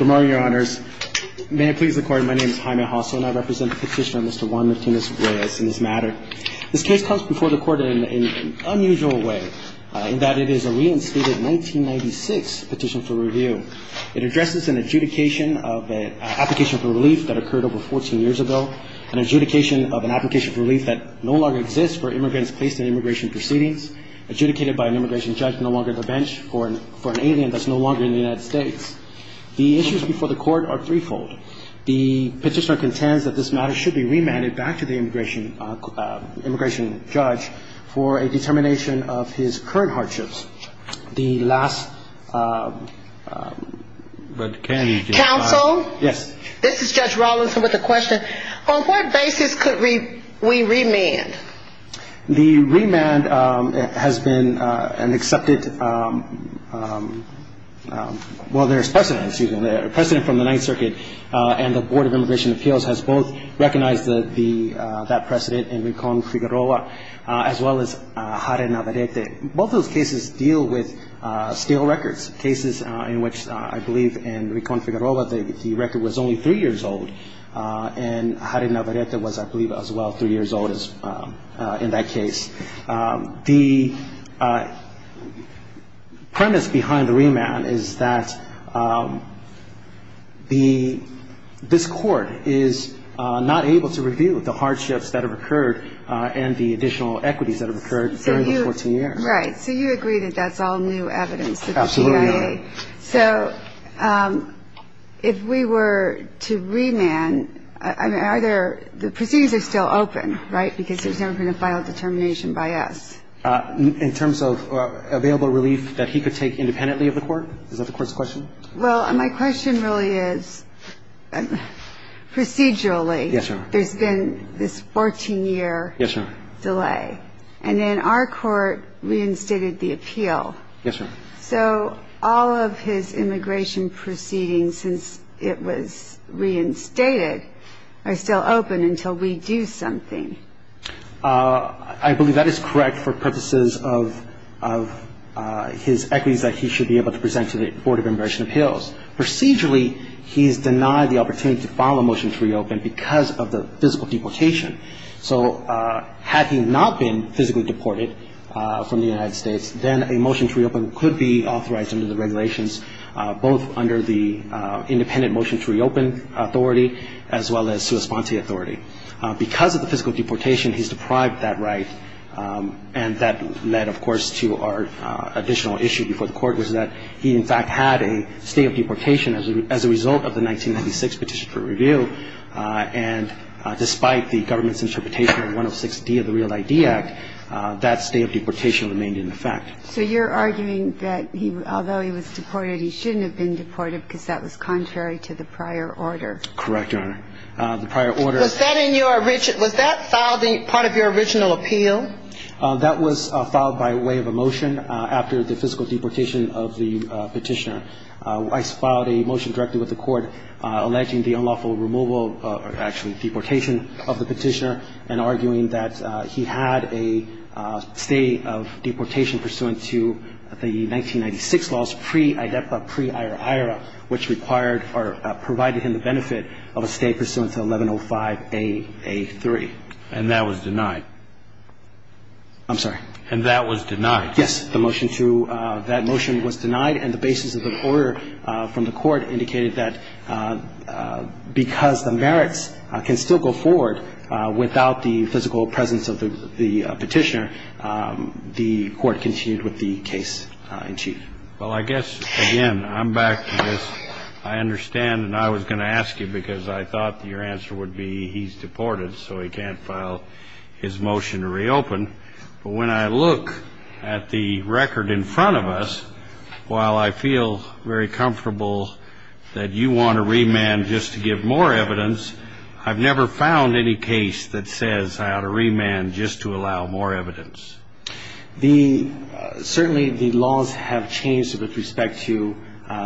May I please record, my name is Jaime Hosso, and I represent the petitioner Mr. Juan Martinez-Reyes in this matter. This case comes before the court in an unusual way, in that it is a reinstated 1996 petition for review. It addresses an adjudication of an application for relief that occurred over 14 years ago, an adjudication of an application for relief that no longer exists for immigrants placed in immigration proceedings, adjudicated by an immigration judge no longer at the bench, for an alien that's no longer in the United States. The issues before the court are threefold. The petitioner contends that this matter should be remanded back to the immigration judge for a determination of his current hardships. The last... Counsel? Yes. This is Judge Rawlinson with a question. On what basis could we remand? The remand has been an accepted... Well, there's precedent, excuse me, precedent from the Ninth Circuit, and the Board of Immigration Appeals has both recognized that precedent in Ricon-Figueroa, as well as Jare Navarrete. Both those cases deal with stale records, cases in which I believe in Ricon-Figueroa the record was only three years old, and Jare Navarrete was, I believe, as well, three years old in that case. The premise behind the remand is that this court is not able to review the hardships that have occurred and the additional equities that have occurred during the 14 years. Right. So you agree that that's all new evidence that the CIA... Absolutely. So if we were to remand, I mean, are there... The proceedings are still open, right, because there's never been a final determination by us. In terms of available relief that he could take independently of the court? Is that the court's question? Well, my question really is procedurally... Yes, Your Honor. ...there's been this 14-year delay. And then our court reinstated the appeal. Yes, Your Honor. So all of his immigration proceedings, since it was reinstated, are still open until we do something. I believe that is correct for purposes of his equities that he should be able to present to the Board of Immigration Appeals. Procedurally, he's denied the opportunity to file a motion to reopen because of the physical deportation. So had he not been physically deported from the United States, then a motion to reopen could be authorized under the regulations, both under the independent motion to reopen authority as well as sua sponte authority. Because of the physical deportation, he's deprived that right. And that led, of course, to our additional issue before the court, which is that he, in fact, had a state of deportation as a result of the 1996 Petition for Review. And despite the government's interpretation of 106D of the REAL ID Act, that state of deportation remained in effect. So you're arguing that although he was deported, he shouldn't have been deported because that was contrary to the prior order. Correct, Your Honor. The prior order... Was that in your original... Was that part of your original appeal? That was filed by way of a motion after the physical deportation of the petitioner. I filed a motion directly with the court alleging the unlawful removal or actually deportation of the petitioner and arguing that he had a state of deportation pursuant to the 1996 laws pre-IDEPA, pre-IRA, which required or provided him the benefit of a state pursuant to 1105A.A.3. And that was denied? I'm sorry? And that was denied? Yes. The motion to that motion was denied, and the basis of the order from the court indicated that because the merits can still go forward without the physical presence of the petitioner, the court continued with the case in chief. Well, I guess, again, I'm back to this. I understand, and I was going to ask you because I thought your answer would be he's deported, so he can't file his motion to reopen. But when I look at the record in front of us, while I feel very comfortable that you want to remand just to give more evidence, I've never found any case that says I ought to remand just to allow more evidence. Certainly the laws have changed with respect to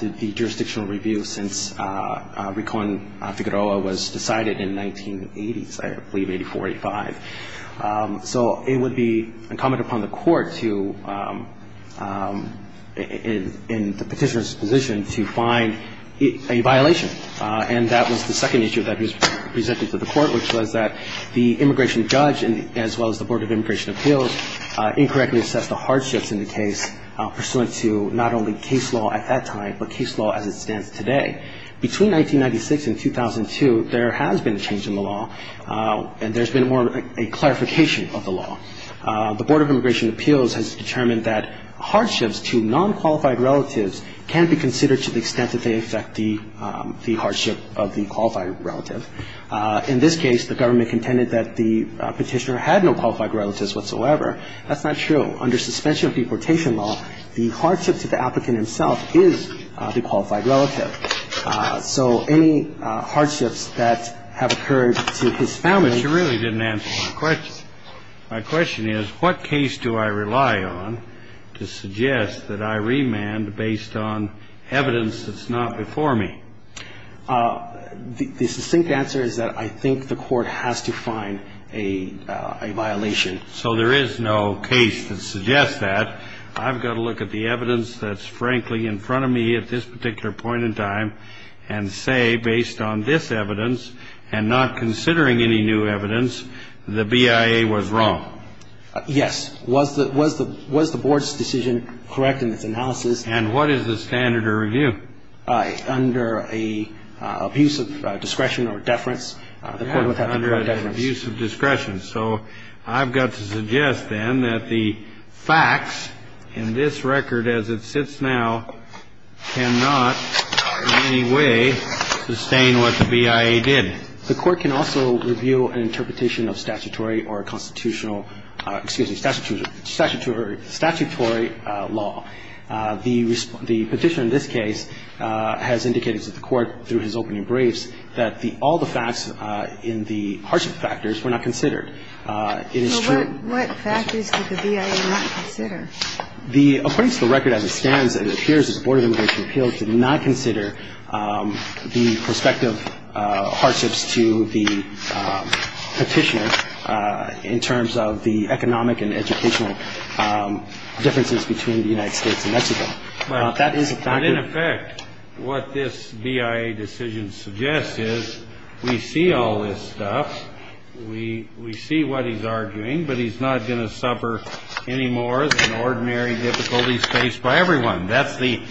the jurisdictional review since Recon Figueroa was decided in the 1980s, I believe, 84, 85. So it would be incumbent upon the court to, in the petitioner's position, to find a violation. And that was the second issue that was presented to the court, which was that the immigration judge as well as the Board of Immigration Appeals incorrectly assessed the hardships in the case pursuant to not only case law at that time but case law as it stands today. Between 1996 and 2002, there has been a change in the law, and there's been more of a clarification of the law. The Board of Immigration Appeals has determined that hardships to non-qualified relatives can be considered to the extent that they affect the hardship of the qualified relative. In this case, the government contended that the petitioner had no qualified relatives whatsoever. That's not true. Under suspension of deportation law, the hardship to the applicant himself is the qualified relative. So any hardships that have occurred to his family. But you really didn't answer my question. My question is, what case do I rely on to suggest that I remand based on evidence that's not before me? The succinct answer is that I think the court has to find a violation. So there is no case that suggests that. I've got to look at the evidence that's, frankly, in front of me at this particular point in time and say, based on this evidence and not considering any new evidence, the BIA was wrong. Yes. Was the Board's decision correct in its analysis? And what is the standard of review? Under an abuse of discretion or deference, the court would have to defer. Under an abuse of discretion. So I've got to suggest, then, that the facts in this record as it sits now cannot in any way sustain what the BIA did. The court can also review an interpretation of statutory or constitutional – excuse me, statutory law. The petitioner in this case has indicated to the court through his opening briefs that all the facts in the hardship factors were not considered. So what factors did the BIA not consider? According to the record as it stands, it appears that the Board of Immigration Appeals did not consider the prospective hardships to the petitioner in terms of the economic and educational differences between the United States and Mexico. But in effect, what this BIA decision suggests is, we see all this stuff. We see what he's arguing, but he's not going to suffer any more than ordinary difficulties faced by everyone. That's the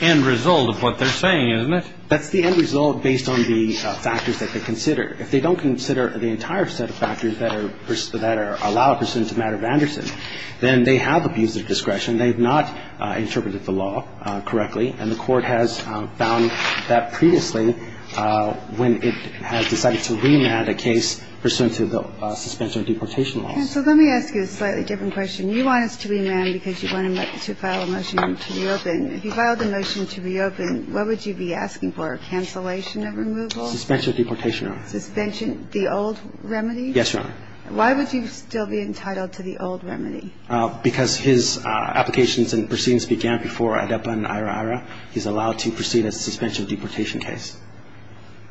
end result of what they're saying, isn't it? That's the end result based on the factors that they consider. If they don't consider the entire set of factors that are – that allow a person to matter of Anderson, then they have abuse of discretion. They have not interpreted the law correctly, and the court has found that previously when it has decided to remand a case pursuant to the suspension of deportation laws. Counsel, let me ask you a slightly different question. You want us to remand because you want him to file a motion to reopen. If he filed a motion to reopen, what would you be asking for, a cancellation of removal? Suspension of deportation, Your Honor. Suspension – the old remedy? Yes, Your Honor. Why would you still be entitled to the old remedy? Because his applications and proceedings began before ADEPA and IHRA. He's allowed to proceed as a suspension of deportation case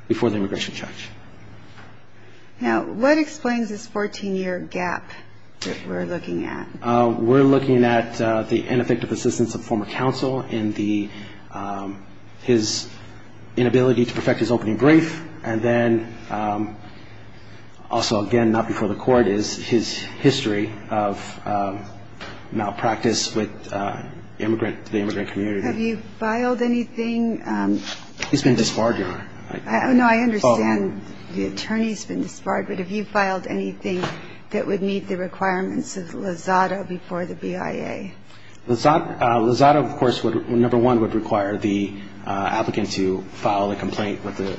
before the immigration charge. Now, what explains this 14-year gap that we're looking at? We're looking at the ineffective assistance of former counsel in the – his inability to perfect his opening brief, and then also, again, not before the court is his history of malpractice with the immigrant community. Have you filed anything? He's been disbarred, Your Honor. No, I understand the attorney's been disbarred, but have you filed anything that would meet the requirements of Lozado before the BIA? Lozado, of course, would – number one, would require the applicant to file a complaint with the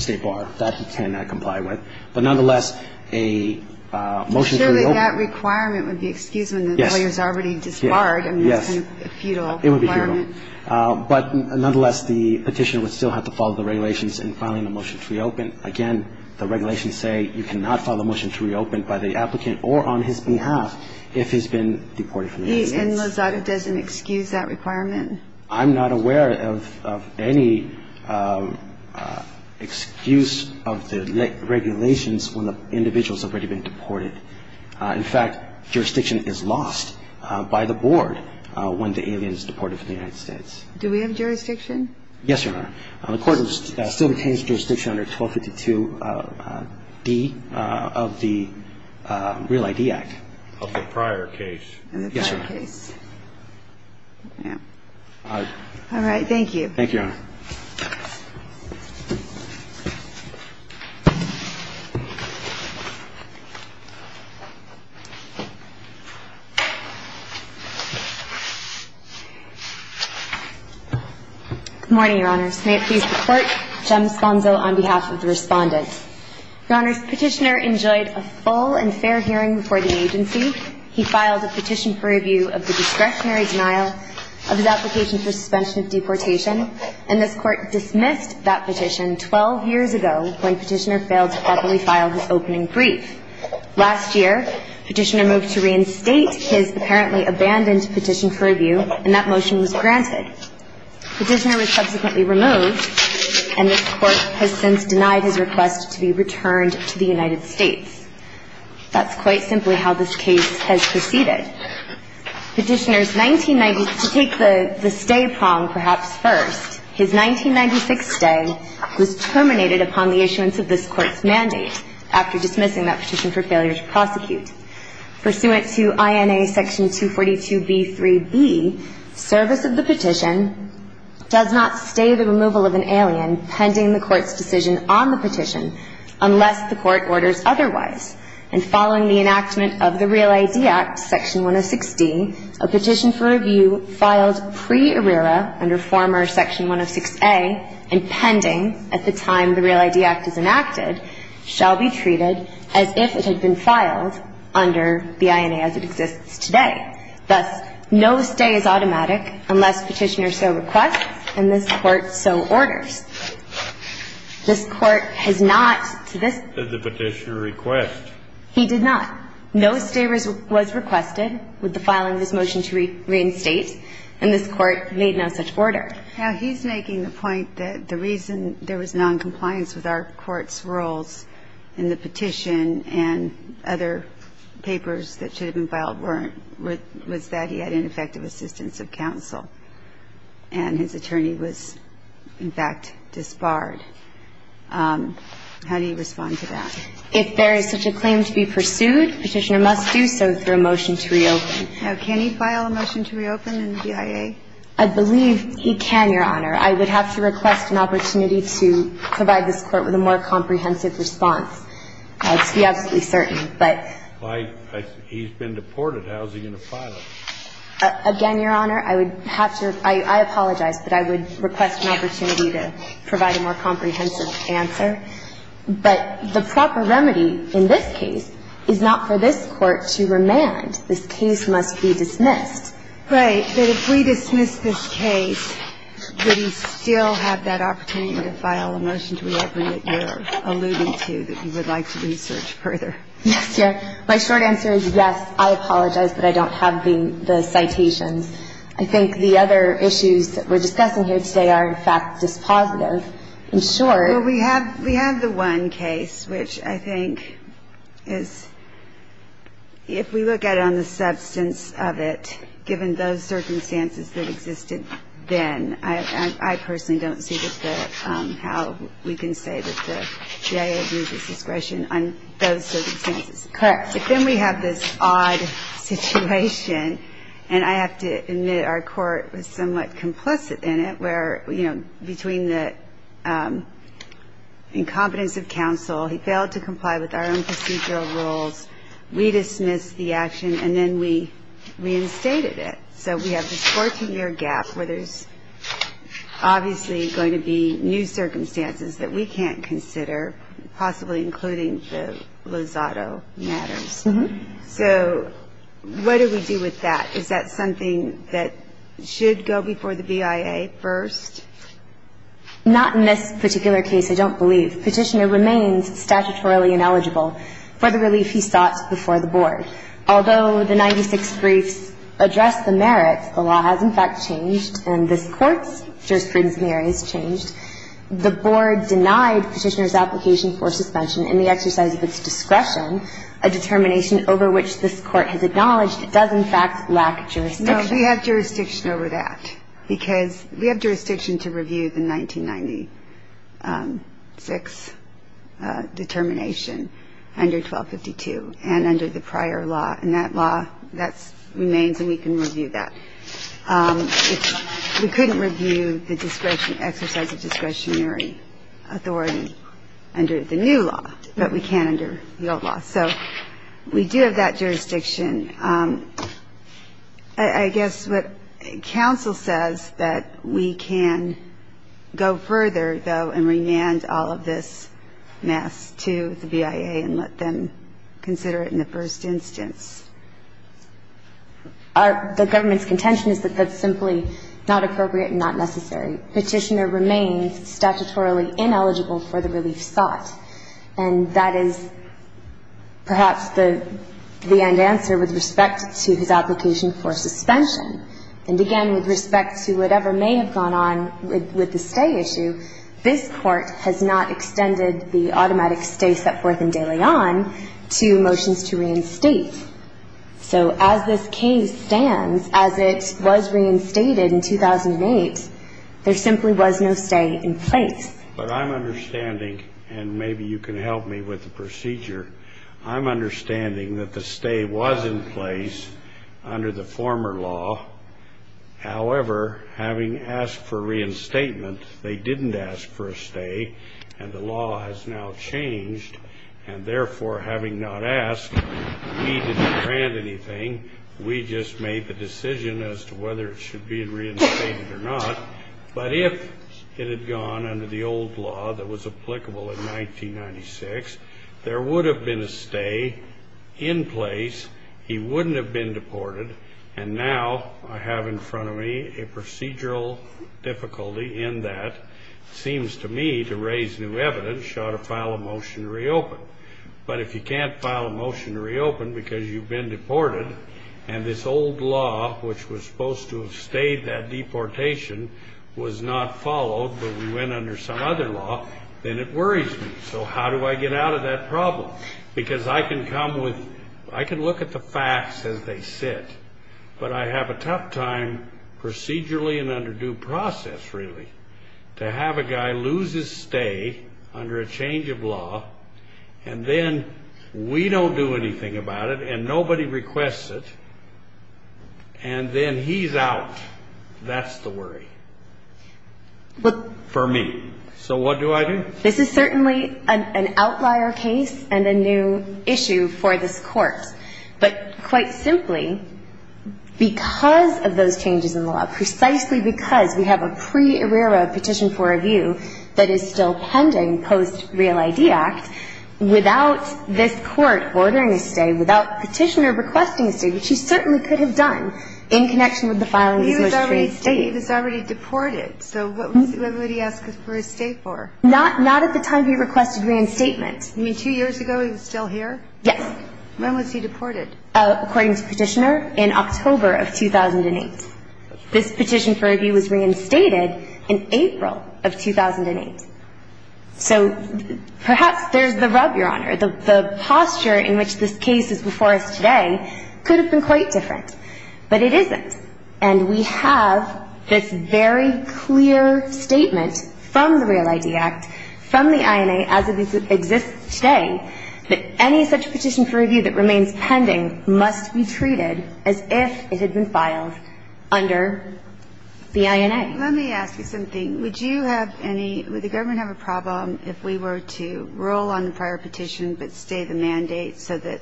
State Bar. That he cannot comply with. But nonetheless, a motion to reopen – I'm sure that that requirement would be excused when the employer's already disbarred. Yes. I mean, that's a futile requirement. It would be futile. But nonetheless, the petitioner would still have to follow the regulations in filing a motion to reopen. Again, the regulations say you cannot file a motion to reopen by the applicant or on his behalf if he's been deported from the United States. And Lozado doesn't excuse that requirement? I'm not aware of any excuse of the regulations when the individual's already been deported. In fact, jurisdiction is lost by the board when the alien is deported from the United States. Yes, Your Honor. The court has still retained jurisdiction under 1252D of the Real ID Act. Of the prior case. Yes, Your Honor. All right. Thank you. Thank you, Your Honor. Good morning, Your Honors. May it please the Court, Jem Sponzo on behalf of the Respondent. Your Honors, the petitioner enjoyed a full and fair hearing before the agency. He filed a petition for review of the discretionary denial of his application for suspension of deportation, and this Court dismissed that petition 1252D. It was 12 years ago when Petitioner failed to properly file his opening brief. Last year, Petitioner moved to reinstate his apparently abandoned petition for review, and that motion was granted. Petitioner was subsequently removed, and this Court has since denied his request to be returned to the United States. That's quite simply how this case has proceeded. Petitioner's 1990s, to take the stay prong perhaps first, his 1996 stay was terminated upon the issuance of this Court's mandate, after dismissing that petition for failure to prosecute. Pursuant to INA Section 242b3b, service of the petition does not stay the removal of an alien pending the Court's decision on the petition, unless the Court orders otherwise. And following the enactment of the Real ID Act, Section 106d, a petition for review filed pre-ARRERA, under former Section 106a, and pending at the time the Real ID Act is enacted, shall be treated as if it had been filed under the INA as it exists today. Thus, no stay is automatic unless Petitioner so requests and this Court so orders. This Court has not to this point. Did the Petitioner request? He did not. No stay was requested with the filing of this motion to reinstate, and this Court made no such order. Now, he's making the point that the reason there was noncompliance with our Court's rules in the petition and other papers that should have been filed weren't, was that he had ineffective assistance of counsel. And his attorney was, in fact, disbarred. How do you respond to that? If there is such a claim to be pursued, Petitioner must do so through a motion to reopen. Now, can he file a motion to reopen in the BIA? I believe he can, Your Honor. I would have to request an opportunity to provide this Court with a more comprehensive response. Let's be absolutely certain. But he's been deported. How is he going to file it? Again, Your Honor, I would have to – I apologize, but I would request an opportunity to provide a more comprehensive answer. But the proper remedy in this case is not for this Court to remand. This case must be dismissed. Right. But if we dismiss this case, would he still have that opportunity to file a motion to reopen that you're alluding to that you would like to research further? Yes, Your Honor. My short answer is yes. I apologize, but I don't have the citations. I think the other issues that we're discussing here today are, in fact, dispositive. In short – Well, we have the one case, which I think is – if we look at it on the substance of it, given those circumstances that existed then, I personally don't see how we can say that the BIA agrees with discretion on those circumstances. Correct. But then we have this odd situation, and I have to admit our Court was somewhat complicit in it, where, you know, between the incompetence of counsel, he failed to comply with our own procedural rules, we dismissed the action, and then we reinstated it. So we have this 14-year gap where there's obviously going to be new circumstances that we can't consider, possibly including the Lozado matters. Mm-hmm. So what do we do with that? Is that something that should go before the BIA first? Not in this particular case, I don't believe. Petitioner remains statutorily ineligible for the relief he sought before the Board. Although the 96 briefs address the merits, the law has, in fact, changed, and this application for suspension in the exercise of its discretion, a determination over which this Court has acknowledged it does, in fact, lack jurisdiction. No, we have jurisdiction over that, because we have jurisdiction to review the 1996 determination under 1252 and under the prior law, and that law, that remains and we can review that. We couldn't review the exercise of discretionary authority under the new law, but we can under the old law. So we do have that jurisdiction. I guess what counsel says, that we can go further, though, and remand all of this mess to the BIA and let them consider it in the first instance. The government's contention is that that's simply not appropriate and not necessary. Petitioner remains statutorily ineligible for the relief sought, and that is perhaps the end answer with respect to his application for suspension. And again, with respect to whatever may have gone on with the stay issue, this Court has not extended the automatic stay set forth in De Leon to motions to reinstate. So as this case stands, as it was reinstated in 2008, there simply was no stay in place. But I'm understanding, and maybe you can help me with the procedure, I'm understanding that the stay was in place under the former law. However, having asked for reinstatement, they didn't ask for a stay, and the law has now changed, and therefore, having not asked, we didn't grant anything. We just made the decision as to whether it should be reinstated or not. But if it had gone under the old law that was applicable in 1996, there would have been a stay in place. He wouldn't have been deported. And now I have in front of me a procedural difficulty in that. It seems to me, to raise new evidence, you ought to file a motion to reopen. But if you can't file a motion to reopen because you've been deported, and this old law, which was supposed to have stayed that deportation, was not followed, but we went under some other law, then it worries me. So how do I get out of that problem? Because I can come with, I can look at the facts as they sit, but I have a tough time procedurally and under due process, really, to have a guy lose his stay under a change of law, and then we don't do anything about it, and nobody requests it, and then he's out. That's the worry for me. So what do I do? This is certainly an outlier case and a new issue for this Court. But quite simply, because of those changes in the law, precisely because we have a pre-arrera petition for review that is still pending post-Real ID Act, without this Court ordering a stay, without Petitioner requesting a stay, which he certainly could have done in connection with the filing of his motion to re-estate. He was already deported, so what would he ask for his stay for? Not at the time he requested re-estatement. You mean two years ago he was still here? Yes. When was he deported? According to Petitioner, in October of 2008. This petition for review was reinstated in April of 2008. So perhaps there's the rub, Your Honor. The posture in which this case is before us today could have been quite different, but it isn't. And we have this very clear statement from the Real ID Act, from the INA as it exists today, that any such petition for review that remains pending must be treated as if it had been filed under the INA. Let me ask you something. Would you have any – would the government have a problem if we were to roll on the prior petition but stay the mandate so that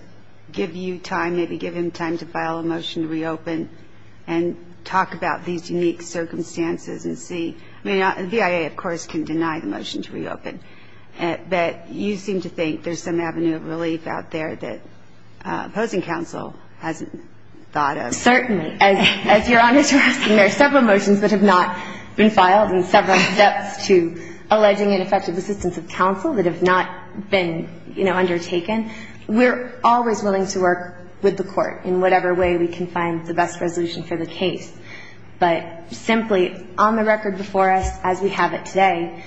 give you time, maybe give him time to file a motion to reopen and talk about these unique circumstances and see – I mean, the relief out there that opposing counsel hasn't thought of? Certainly. As Your Honor is requesting, there are several motions that have not been filed and several steps to alleging ineffective assistance of counsel that have not been, you know, undertaken. We're always willing to work with the Court in whatever way we can find the best resolution for the case. But simply, on the record before us as we have it today,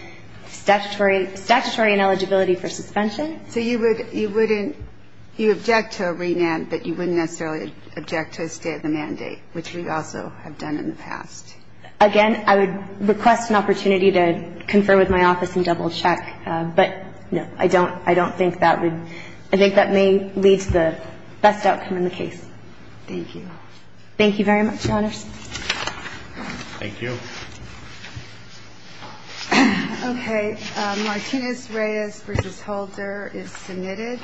statutory – statutory ineligibility for suspension. So you would – you wouldn't – you object to a remand, but you wouldn't necessarily object to a stay of the mandate, which we also have done in the past. Again, I would request an opportunity to confer with my office and double-check. But no, I don't – I don't think that would – I think that may lead to the best outcome in the case. Thank you. Thank you very much, Your Honors. Thank you. Okay. Martinez-Reyes v. Holder is submitted.